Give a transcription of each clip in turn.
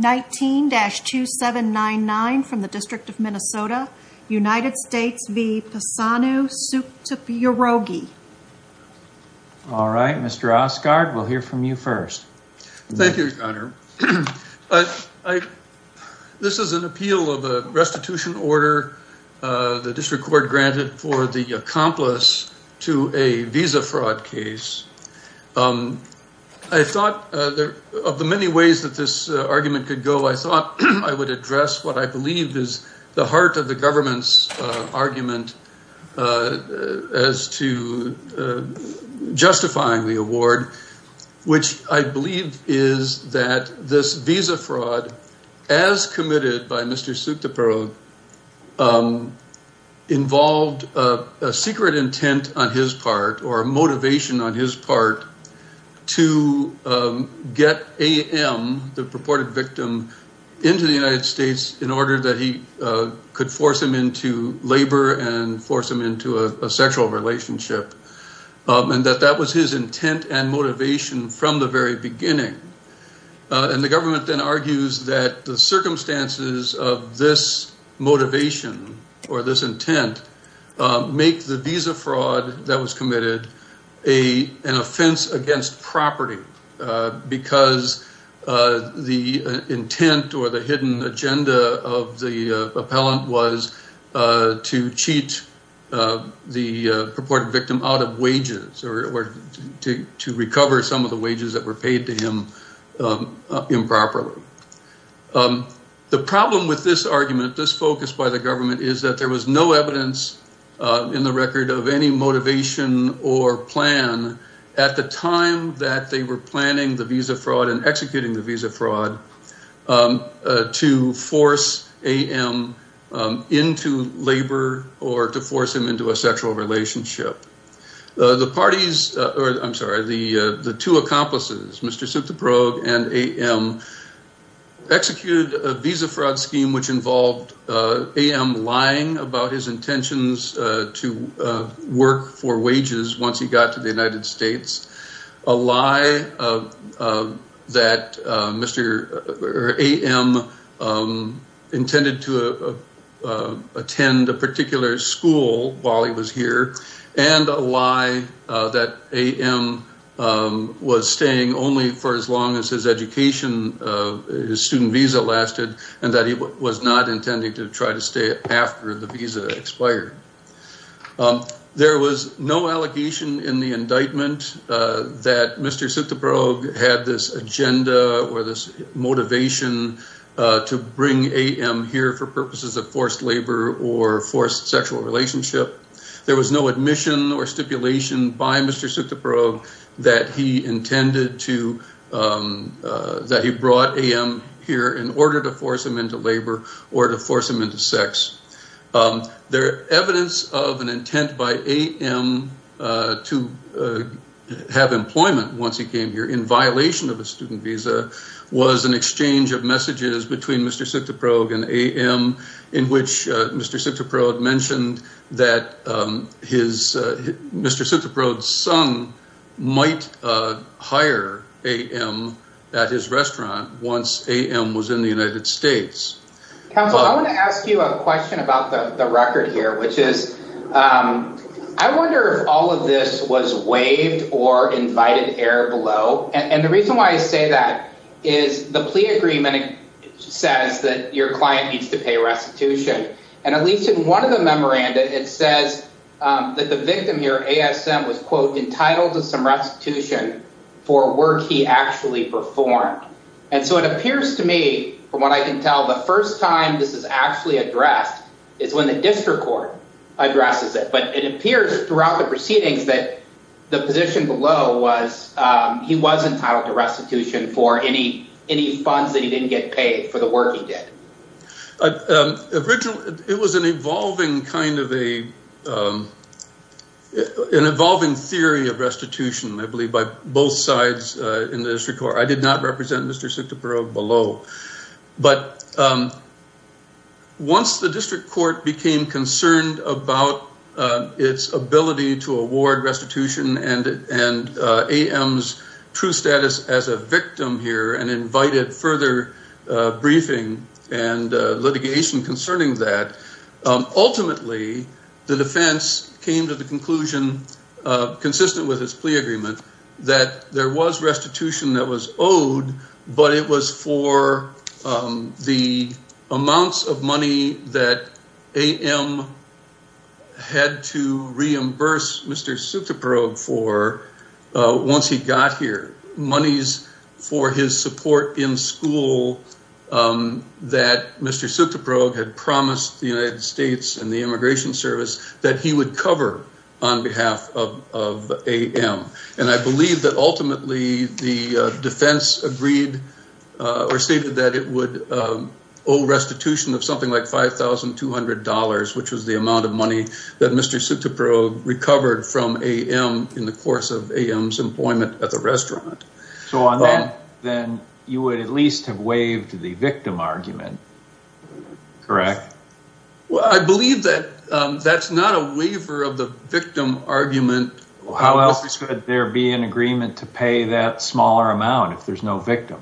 19-2799 from the District of Minnesota, United States v. Pisanu Sukhtipyaroge. All right, Mr. Oscar, we'll hear from you first. Thank you, Your Honor. This is an appeal of a restitution order the district court granted for the accomplice to a visa fraud case. I thought of the many ways that this argument could go, I thought I would address what I believe is the heart of the government's argument as to justifying the award, which I believe is that this visa fraud, as committed by Mr. Sukhtipyaroge, involved a secret intent on his part or a motivation on his part to get A.M., the purported victim, into the United States in order that he could force him into labor and force him into a sexual relationship, and that that was his intent and motivation from the very beginning. And the government then argues that the circumstances of this motivation or this intent make the visa fraud that was committed an offense against property because the intent or the hidden agenda of the appellant was to cheat the purported victim out of wages or to recover some of the wages that were paid to him improperly. The problem with this argument, this focus by the government, is that there was no evidence in the record of any motivation or plan at the time that they were planning the visa fraud and executing the visa fraud to force A.M. into labor or to force him into a sexual relationship. The parties, or I'm sorry, the two accomplices, Mr. Sukhtipyaroge and A.M., executed a visa fraud scheme which involved A.M. lying about his intentions to work for wages once he got to the United States, a lie that A.M. intended to attend a particular school while he was here, and a lie that A.M. was staying only for as long as his education, his student visa lasted, and that he was not intending to try to stay after the visa expired. There was no allegation in the indictment that Mr. Sukhtipyaroge had this agenda or this motivation to bring A.M. here for purposes of forced labor or forced sexual relationship. There was no admission or stipulation by Mr. Sukhtipyaroge that he intended to, that he brought A.M. here in order to force him into labor or to force him into sex. The evidence of an intent by A.M. to have employment once he came here in violation of a student visa was an exchange of messages between Mr. Sukhtipyaroge and A.M. in which Mr. Sukhtipyaroge mentioned that his, Mr. Sukhtipyaroge's son might hire A.M. at his restaurant once A.M. was in the United States. Counsel, I want to ask you a question about the record here, which is, I wonder if all of this was waived or invited error below. And the reason why I say that is the plea agreement says that your client needs to pay restitution. And at least in one of the memoranda, it says that the victim here, A.S.M., was, quote, entitled to some restitution for work he actually performed. And so it appears to me, from what I can tell, the first time this is actually addressed is when the district court addresses it. But it appears throughout the proceedings that the position below was he was entitled to restitution for any funds that he didn't get paid for the work he did. Originally, it was an evolving kind of a, an evolving theory of restitution, I believe, by both sides in the district court. I did not represent Mr. Sukhtipyaroge below. But once the district court became concerned about its ability to award restitution and A.M.'s true status as a victim here and invited further briefing and litigation concerning that, ultimately, the defense came to the conclusion, consistent with his plea agreement, that there was restitution that was owed, but it was for the amounts of money that A.M. had to reimburse Mr. Sukhtipyaroge for once he got here. Monies for his support in school that Mr. Sukhtipyaroge had promised the United States and the Immigration Service that he would cover on behalf of A.M. And I believe that, ultimately, the defense agreed or stated that it would owe restitution of something like $5,200, which was the amount of money that Mr. Sukhtipyaroge recovered from A.M. in the course of A.M.'s employment at the restaurant. So on that, then, you would at least have waived the victim argument, correct? Well, I believe that that's not a waiver of the victim argument. How else could there be an agreement to pay that smaller amount if there's no victim?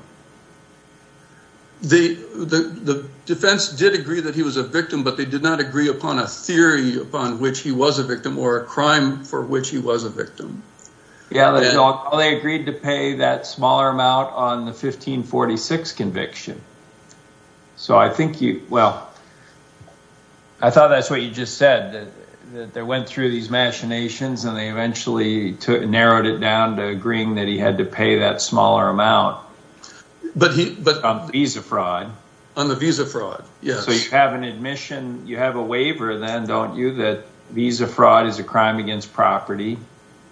The defense did agree that he was a victim, but they did not agree upon a theory upon which he was a victim or a crime for which he was a victim. Yeah, they agreed to pay that smaller amount on the 1546 conviction. So I think you, well, I thought that's what you just said. They went through these machinations and they eventually narrowed it down to agreeing that he had to pay that smaller amount on the visa fraud. On the visa fraud, yes. So you have an admission, you have a waiver then, don't you, that visa fraud is a crime against property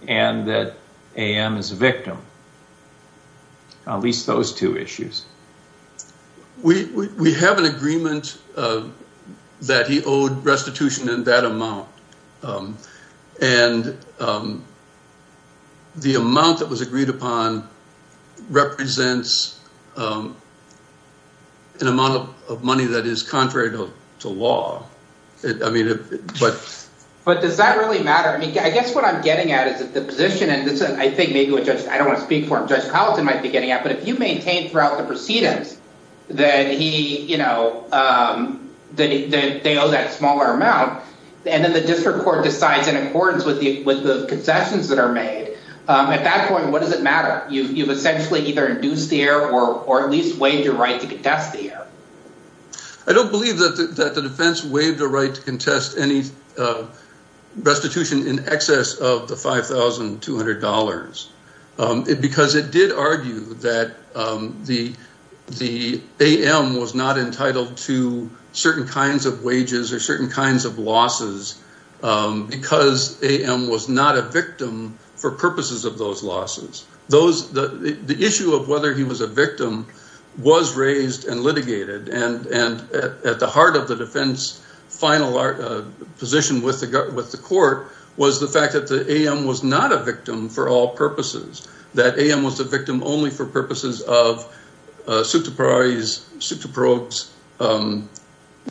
and that A.M. is a victim. At least those two issues. We have an agreement that he owed restitution in that amount. And the amount that was agreed upon represents an amount of money that is contrary to law. But does that really matter? I mean, I guess what I'm getting at is that the position, and I think maybe with Judge, I don't want to speak for him. But if you maintain throughout the proceedings that he, you know, that they owe that smaller amount and then the district court decides in accordance with the concessions that are made. At that point, what does it matter? You've essentially either induced the error or at least waived your right to contest the error. I don't believe that the defense waived the right to contest any restitution in excess of the $5,200 because it did argue that the A.M. was not entitled to certain kinds of wages or certain kinds of losses because A.M. was not a victim for purposes of those losses. The issue of whether he was a victim was raised and litigated and at the heart of the defense final position with the court was the fact that the A.M. was not a victim for all purposes. That A.M. was a victim only for purposes of Sotoporos'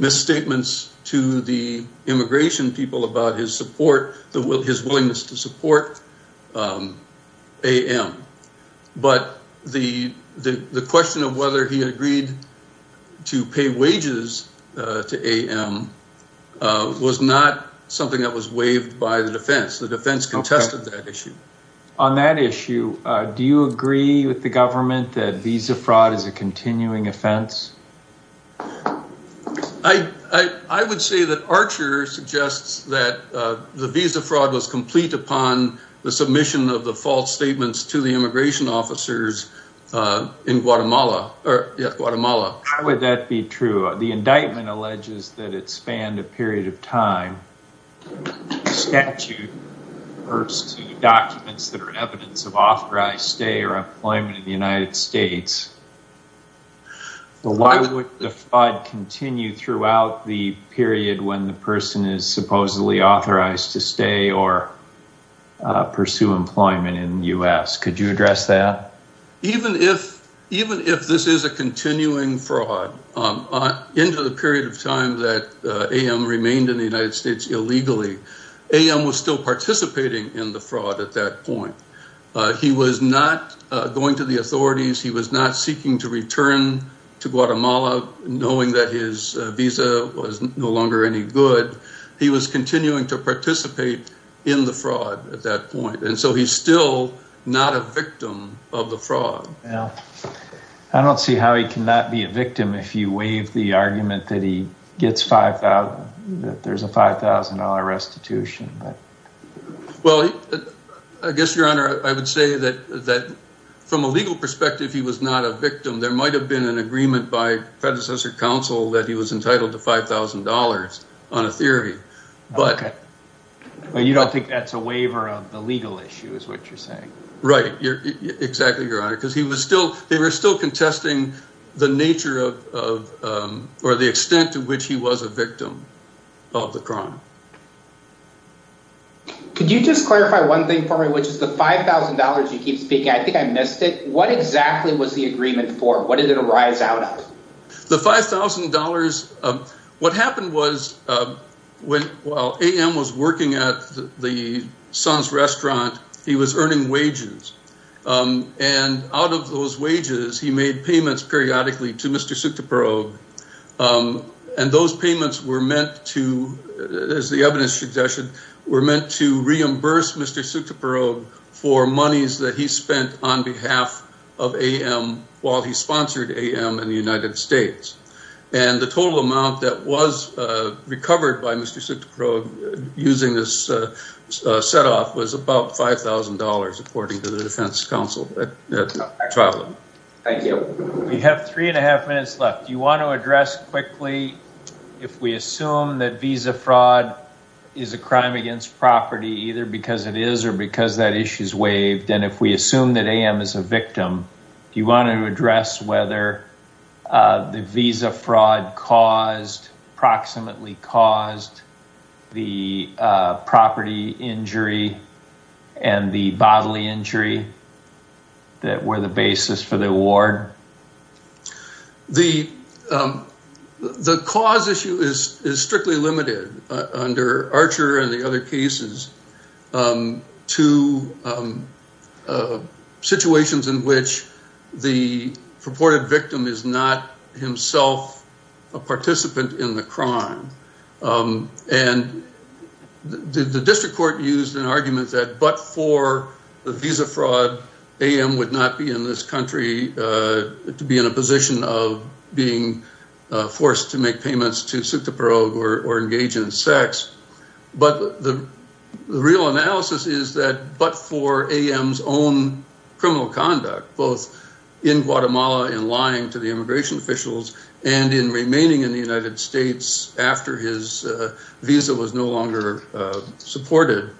misstatements to the immigration people about his support, his willingness to support A.M. But the question of whether he agreed to pay wages to A.M. was not something that was waived by the defense. The defense contested that issue. On that issue, do you agree with the government that visa fraud is a continuing offense? I would say that Archer suggests that the visa fraud was complete upon the submission of the false statements to the immigration officers in Guatemala. How would that be true? The indictment alleges that it spanned a period of time. The statute refers to documents that are evidence of authorized stay or employment in the United States. Why would the fraud continue throughout the period when the person is supposedly authorized to stay or pursue employment in the U.S.? Could you address that? Even if this is a continuing fraud, into the period of time that A.M. remained in the United States illegally, A.M. was still participating in the fraud at that point. He was not going to the authorities. He was not seeking to return to Guatemala knowing that his visa was no longer any good. He was continuing to participate in the fraud at that point. And so he's still not a victim of the fraud. I don't see how he cannot be a victim if you waive the argument that there's a $5,000 restitution. Well, I guess, Your Honor, I would say that from a legal perspective, he was not a victim. There might have been an agreement by predecessor counsel that he was entitled to $5,000 on a theory. But you don't think that's a waiver of the legal issue is what you're saying. Right. Exactly, Your Honor, because they were still contesting the nature of or the extent to which he was a victim of the crime. Could you just clarify one thing for me, which is the $5,000 you keep speaking? I think I missed it. What exactly was the agreement for? What did it arise out of? The $5,000. What happened was when A.M. was working at the Suns restaurant, he was earning wages. And out of those wages, he made payments periodically to Mr. Sukdiparog. And those payments were meant to, as the evidence suggestion, were meant to reimburse Mr. Sukdiparog for monies that he spent on behalf of A.M. while he sponsored A.M. in the United States. And the total amount that was recovered by Mr. Sukdiparog using this set off was about $5,000, according to the defense counsel. Thank you. We have three and a half minutes left. Do you want to address quickly if we assume that visa fraud is a crime against property either because it is or because that issue is waived? And if we assume that A.M. is a victim, do you want to address whether the visa fraud caused, approximately caused, the property injury and the bodily injury that were the basis for the award? The cause issue is strictly limited under Archer and the other cases to situations in which the purported victim is not himself a participant in the crime. And the district court used an argument that but for the visa fraud, A.M. would not be in this country to be in a position of being forced to make payments to Sukdiparog or engage in sex. But the real analysis is that but for A.M.'s own criminal conduct, both in Guatemala in lying to the immigration officials and in remaining in the United States after his visa was no longer supported,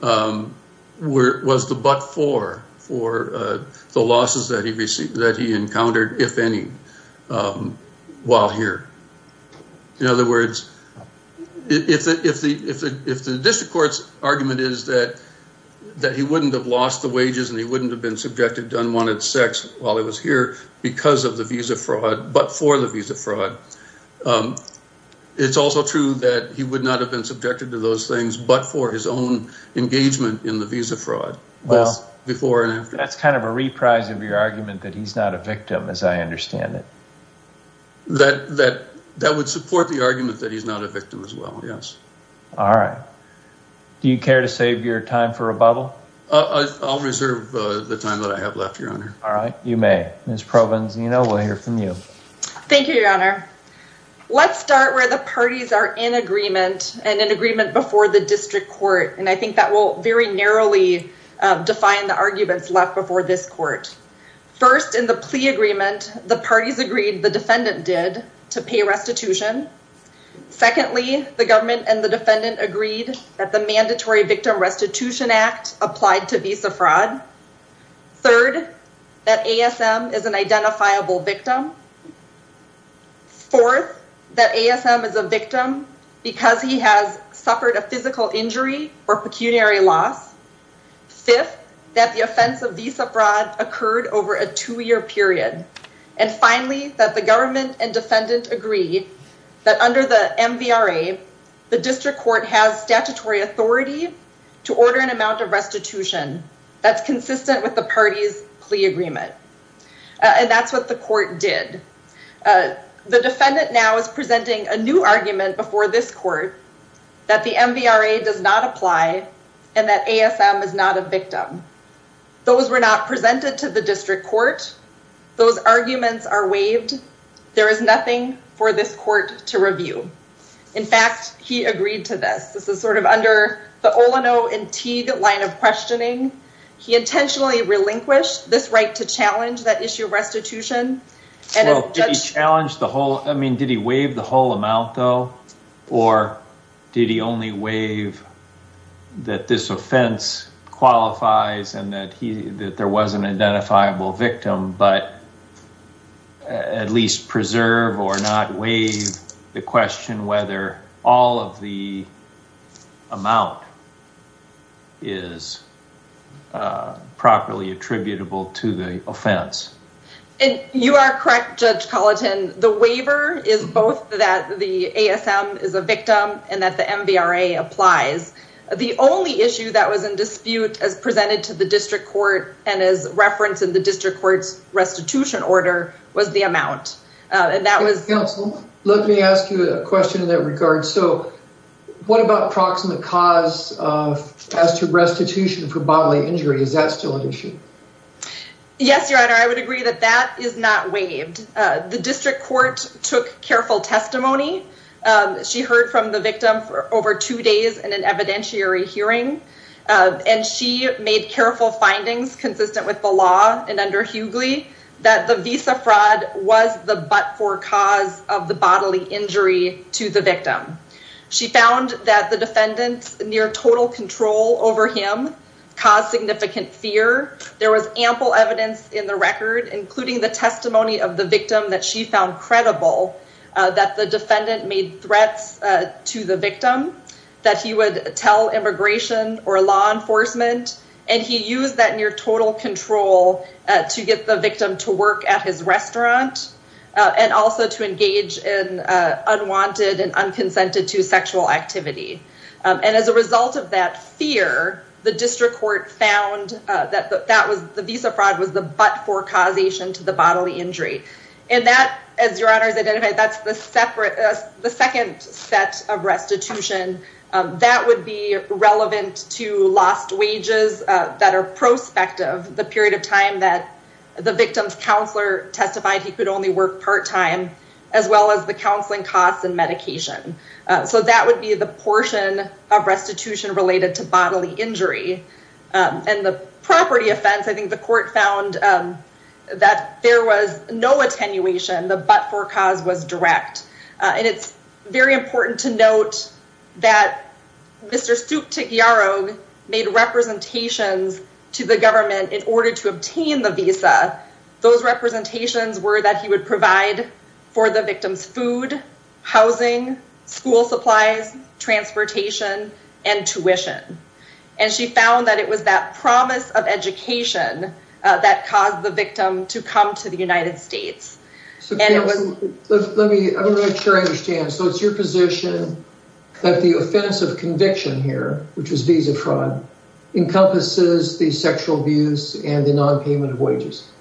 was the but for the losses that he encountered, if any, while here. In other words, if the district court's argument is that he wouldn't have lost the wages and he wouldn't have been subjected to unwanted sex while he was here because of the visa fraud but for the visa fraud, it's also true that he would not have been subjected to those things but for his own engagement in the visa fraud before and after. That's kind of a reprise of your argument that he's not a victim as I understand it. That would support the argument that he's not a victim as well, yes. All right. Do you care to save your time for a bubble? I'll reserve the time that I have left, Your Honor. All right, you may. Ms. Provenzino, we'll hear from you. Thank you, Your Honor. Let's start where the parties are in agreement and in agreement before the district court. And I think that will very narrowly define the arguments left before this court. First, in the plea agreement, the parties agreed, the defendant did, to pay restitution. Secondly, the government and the defendant agreed that the Mandatory Victim Restitution Act applied to visa fraud. Third, that ASM is an identifiable victim. Fourth, that ASM is a victim because he has suffered a physical injury or pecuniary loss. Fifth, that the offense of visa fraud occurred over a two-year period. And finally, that the government and defendant agree that under the MVRA, the district court has statutory authority to order an amount of restitution that's consistent with the parties plea agreement. And that's what the court did. The defendant now is presenting a new argument before this court that the MVRA does not apply and that ASM is not a victim. Those were not presented to the district court. Those arguments are waived. There is nothing for this court to review. In fact, he agreed to this. This is sort of under the Olino and Teague line of questioning. He intentionally relinquished this right to challenge that issue of restitution. Did he waive the whole amount, though? Or did he only waive that this offense qualifies and that there was an identifiable victim, but at least preserve or not waive the question whether all of the amount is properly attributable to the offense? You are correct, Judge Colleton. The waiver is both that the ASM is a victim and that the MVRA applies. The only issue that was in dispute as presented to the district court and as referenced in the district court's restitution order was the amount. Counsel, let me ask you a question in that regard. So what about proximate cause as to restitution for bodily injury? Is that still an issue? Yes, Your Honor, I would agree that that is not waived. The district court took careful testimony. She heard from the victim for over two days in an evidentiary hearing. And she made careful findings consistent with the law and under Hughley that the visa fraud was the but-for cause of the bodily injury to the victim. She found that the defendants near total control over him caused significant fear there was ample evidence in the record including the testimony of the victim that she found credible that the defendant made threats to the victim that he would tell immigration or law enforcement and he used that near total control to get the victim to work at his restaurant and also to engage in unwanted and unconsented to sexual activity. And as a result of that fear, the district court found that the visa fraud was the but-for causation to the bodily injury. And that, as Your Honor has identified, that's the second set of restitution that would be relevant to lost wages that are prospective, the period of time that the victim's counselor testified he could only work part-time as well as the counseling costs and medication. So that would be the portion of restitution related to bodily injury. And the property offense, I think the court found that there was no attenuation. The but-for cause was direct. And it's very important to note that Mr. Stuptyarog made representations to the government in order to obtain the visa. Those representations were that he would provide for the victim's food, housing, school supplies, transportation, and tuition. And she found that it was that promise of education that caused the victim to come to the United States. Let me make sure I understand. So it's your position that the offense of conviction here, which is visa fraud, encompasses the sexual abuse and the non-payment of wages?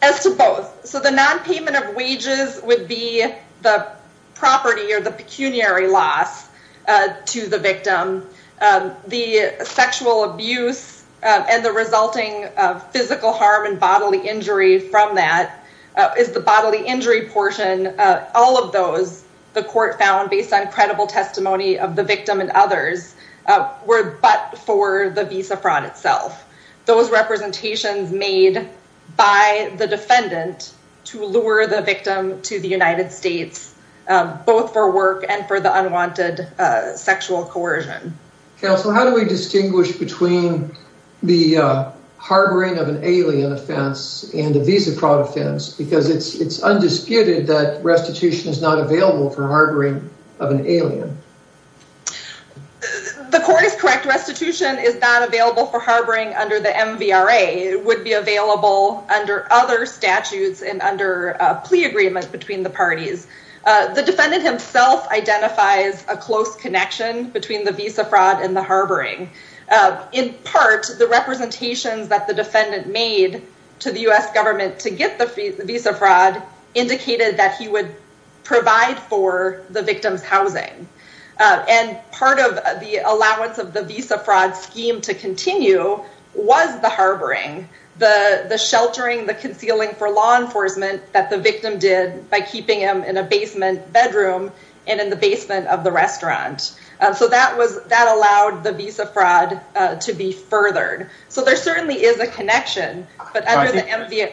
As to both. So the non-payment of wages would be the property or the pecuniary loss to the victim. The sexual abuse and the resulting physical harm and bodily injury from that is the bodily injury portion. All of those, the court found based on credible testimony of the victim and others, were but for the visa fraud itself. Those representations made by the defendant to lure the victim to the United States, both for work and for the unwanted sexual coercion. Counsel, how do we distinguish between the harboring of an alien offense and a visa fraud offense? Because it's undisputed that restitution is not available for harboring of an alien. The court is correct. Restitution is not available for harboring under the MVRA. It would be available under other statutes and under plea agreement between the parties. The defendant himself identifies a close connection between the visa fraud and the harboring. In part, the representations that the defendant made to the U.S. government to get the visa fraud indicated that he would provide for the victim's housing. Part of the allowance of the visa fraud scheme to continue was the harboring, the sheltering, the concealing for law enforcement that the victim did by keeping him in a basement bedroom and in the basement of the restaurant. That allowed the visa fraud to be furthered. There certainly is a connection, but under the MVRA...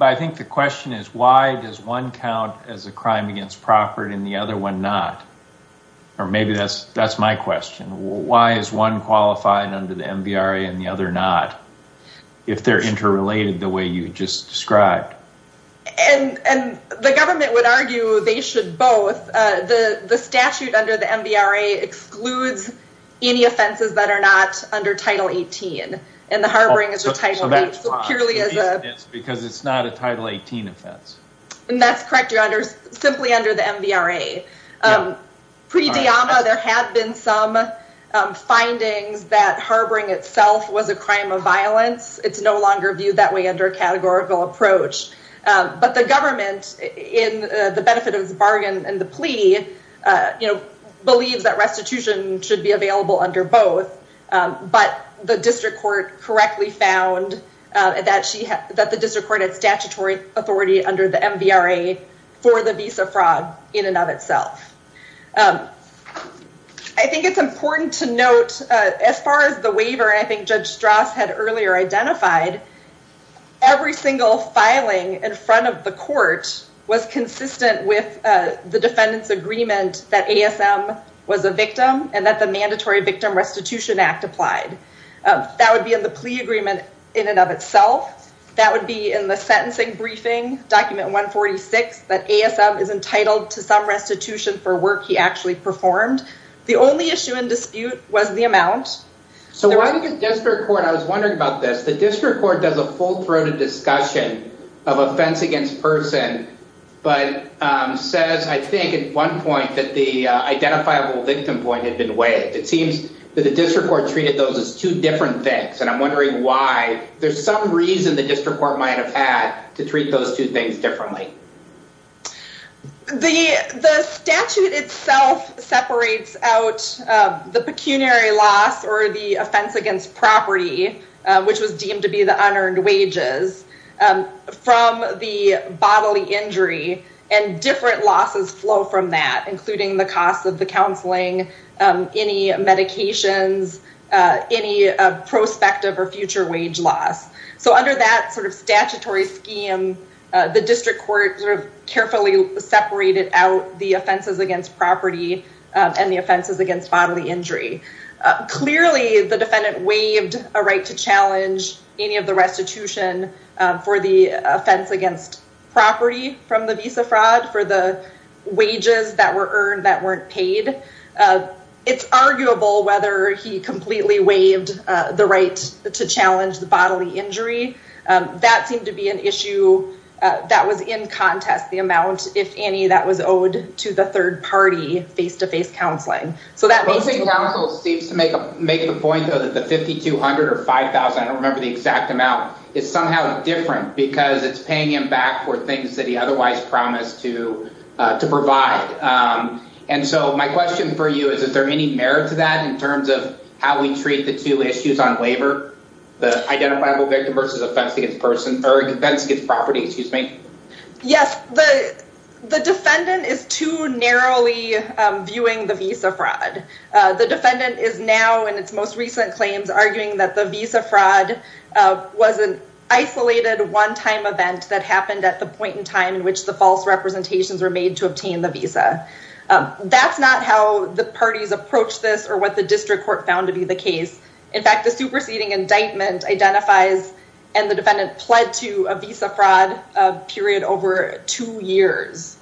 I think the question is why does one count as a crime against property and the other one not? Or maybe that's my question. Why is one qualified under the MVRA and the other not? If they're interrelated the way you just described. And the government would argue they should both. The statute under the MVRA excludes any offenses that are not under Title 18. And the harboring is a Title 18. Because it's not a Title 18 offense. And that's correct. You're simply under the MVRA. Pre-Diama, there had been some findings that harboring itself was a crime of violence. It's no longer viewed that way under a categorical approach. But the government, in the benefit of the bargain and the plea, believes that restitution should be available under both. But the district court correctly found that the district court had statutory authority under the MVRA for the visa fraud in and of itself. I think it's important to note, as far as the waiver, I think Judge Strauss had earlier identified, every single filing in front of the court was consistent with the defendant's agreement that ASM was a victim and that the Mandatory Victim Restitution Act applied. That would be in the plea agreement in and of itself. That would be in the sentencing briefing, Document 146, that ASM is entitled to some restitution for work he actually performed. The only issue in dispute was the amount. So why did the district court, I was wondering about this, the district court does a full-throated discussion of offense against person, but says, I think at one point, that the identifiable victim point had been waived. It seems that the district court treated those as two different things. And I'm wondering why, there's some reason the district court might have had to treat those two things differently. The statute itself separates out the pecuniary loss or the offense against property, which was deemed to be the unearned wages, from the bodily injury. And different losses flow from that, including the cost of the counseling, any medications, any prospective or future wage loss. So under that statutory scheme, the district court carefully separated out the offenses against property and the offenses against bodily injury. Clearly, the defendant waived a right to challenge any of the restitution for the offense against property from the visa fraud, for the wages that were earned that weren't paid. It's arguable whether he completely waived the right to challenge the bodily injury. That seemed to be an issue that was in contest the amount, if any, that was owed to the third party, face-to-face counseling. So that makes two points. Counsel seems to make the point, though, that the $5,200 or $5,000, I don't remember the exact amount, is somehow different, because it's paying him back for things that he otherwise promised to provide. And so my question for you is, is there any merit to that in terms of how we treat the two issues on labor, the identifiable victim versus offense against property? Yes, the defendant is too narrowly viewing the visa fraud. The defendant is now, in its most recent claims, arguing that the visa fraud was an isolated one-time event that happened at the point in time in which the false representations were made to obtain the visa. That's not how the parties approached this or what the district court found to be the case. In fact, the superseding indictment identifies and the defendant pled to a visa fraud period over two years,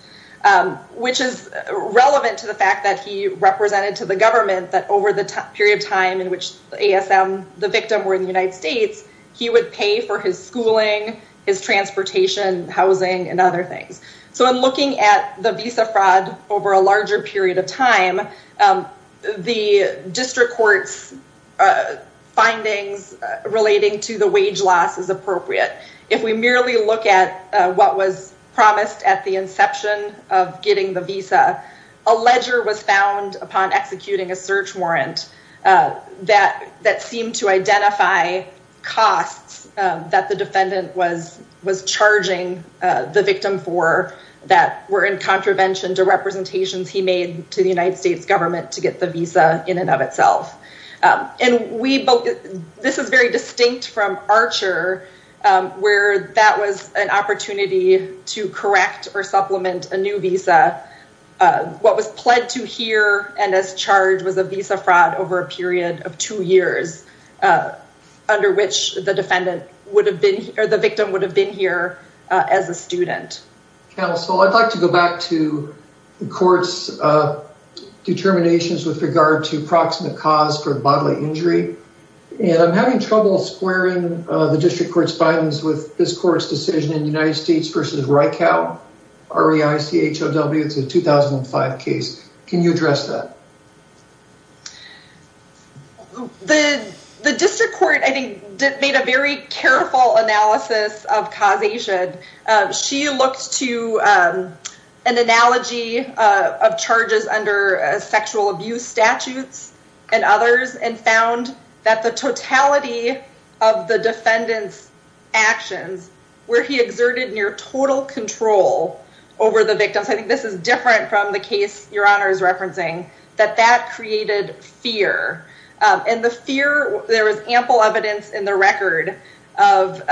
which is relevant to the fact that he represented to the government that over the period of time in which ASM, the victim, were in the United States, he would pay for his schooling, his transportation, housing, and other things. So in looking at the visa fraud over a larger period of time, the district court's findings relating to the wage loss is appropriate. If we merely look at what was promised at the inception of getting the visa, a ledger was found upon executing a search warrant that seemed to identify costs that the defendant was charging the victim for that were in contravention to representations he made to the United States government to get the visa in and of itself. This is very distinct from Archer, where that was an opportunity to correct or supplement a new visa. What was pled to here and as charged was a visa fraud over a period of two years under which the victim would have been here as a student. Counsel, I'd like to go back to the court's determinations with regard to proximate cause for bodily injury. And I'm having trouble squaring the district court's findings with this court's decision in United States v. Rykow, R-E-I-C-H-O-W, it's a 2005 case. Can you address that? The district court, I think, made a very careful analysis of causation. She looked to an analogy of charges under sexual abuse statutes and others and found that the totality of the defendant's actions, where he exerted near total control over the victims, I think this is different from the case your honor is referencing, that that created fear. And the fear, there was ample evidence in the record of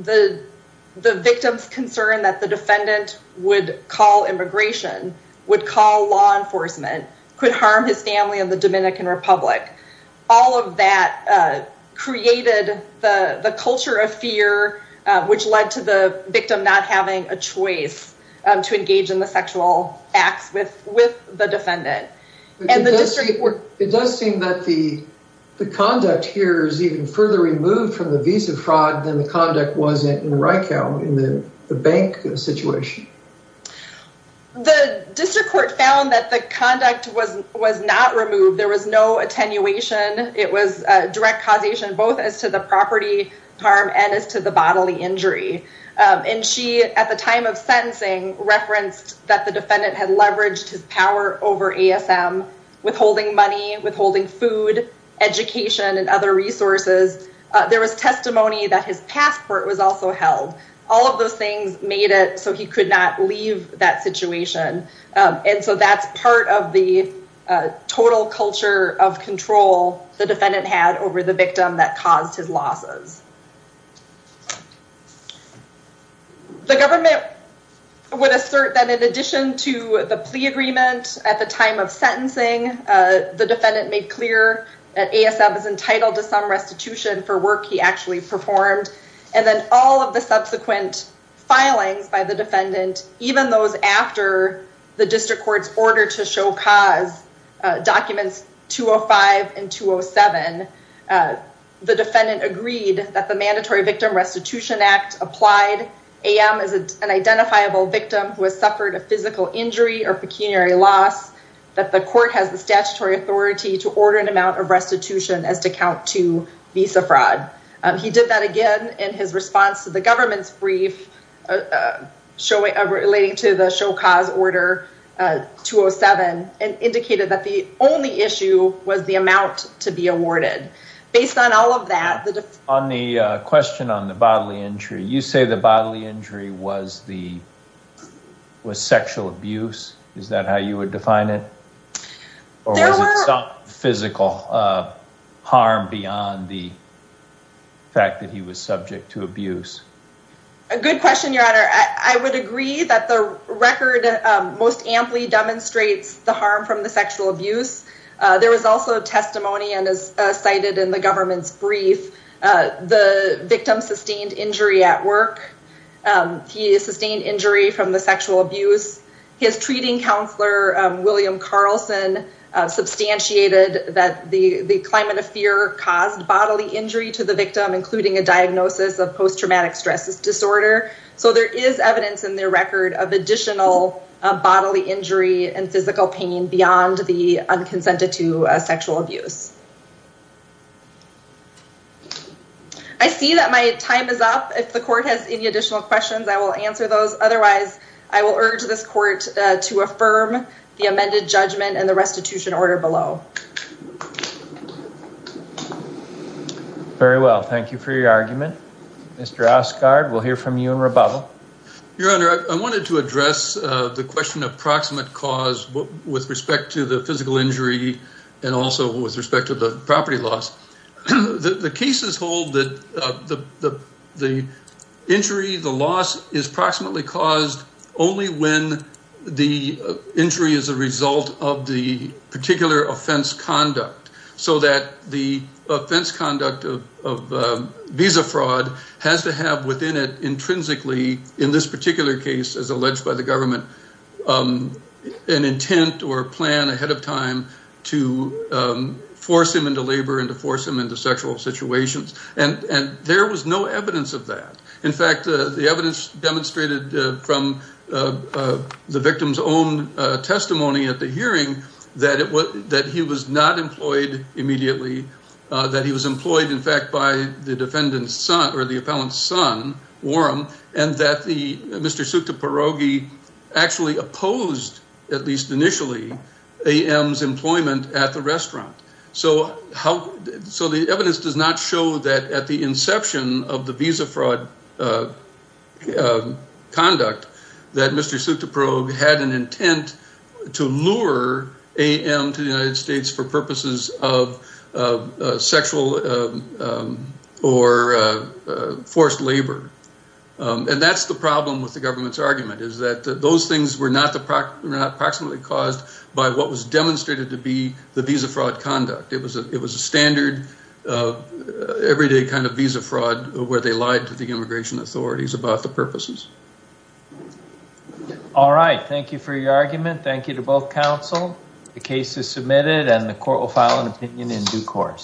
the victim's concern that the defendant would call immigration, would call law enforcement, could harm his family in the Dominican Republic. All of that created the culture of fear which led to the victim not having a choice to engage in the sexual acts with the defendant. It does seem that the conduct here is even further removed from the visa fraud than the conduct was in Rykow in the bank situation. The district court found that the conduct was not removed. There was no attenuation. It was direct causation both as to the property harm and as to the bodily injury. And she, at the time of sentencing, referenced that the defendant had leveraged his power over ASM, withholding money, withholding food, education, and other resources. There was testimony that his passport was also held. All of those things made it so he could not leave that situation. And so that's part of the total culture of control the defendant had over the victim that caused his losses. The government would assert that in addition to the plea agreement at the time of sentencing, the defendant made clear that ASM is entitled to some restitution for work he actually performed. And then all of the subsequent filings by the defendant, even those after the district court's order to show cause, documents 205 and 207, the defendant agreed that the Mandatory Victim Restitution Act applied. AM is an identifiable victim who has suffered a physical injury or pecuniary loss, that the court has the statutory authority to order an amount of restitution as to count to visa fraud. He did that again in his response to the government's brief relating to the show cause order 207 and indicated that the only issue was the amount to be awarded. Based on all of that... On the question on the bodily injury, you say the bodily injury was sexual abuse, is that how you would define it? Or was it some physical harm beyond the fact that he was subject to abuse? A good question, your honor. I would agree that the record most amply demonstrates the harm from the sexual abuse. There was also testimony and as cited in the government's brief, the victim sustained injury at work. He sustained injury from the sexual abuse. His treating counselor, William Carlson, substantiated that the climate of fear caused bodily injury to the victim, including a diagnosis of post-traumatic stress disorder. So there is evidence in their record of additional bodily injury and physical pain beyond the unconsented to sexual abuse. I see that my time is up. If the court has any additional questions, I will answer those. Otherwise, I will urge this court to affirm the amended judgment and the restitution order below. Very well. Thank you for your argument. Mr. Osgaard, we'll hear from you in rebuttal. Your honor, I wanted to address the question of proximate cause with respect to the physical injury and also with respect to the property loss. The cases hold that the injury, the loss is proximately caused only when the injury is a result of the particular offense conduct so that the offense conduct of visa fraud has to have within it intrinsically, in this particular case as alleged by the government, an intent or plan ahead of time to force him into labor or to force him into sexual situations. And there was no evidence of that. In fact, the evidence demonstrated from the victim's own testimony at the hearing that he was not employed immediately, that he was employed, in fact, by the defendant's son or the appellant's son, and that Mr. Sukta Parogi actually opposed, at least initially, AM's employment at the restaurant. So the evidence does not show that at the inception of the visa fraud conduct that Mr. Sukta Parogi had an intent to lure AM to the United States for purposes of sexual or forced labor. And that's the problem with the government's argument, is that those things were not proximately caused by what was demonstrated to be the visa fraud conduct. It was a standard, everyday kind of visa fraud where they lied to the immigration authorities about the purposes. All right. Thank you for your argument. Thank you to both counsel. The case is submitted and the court will file an opinion in due course.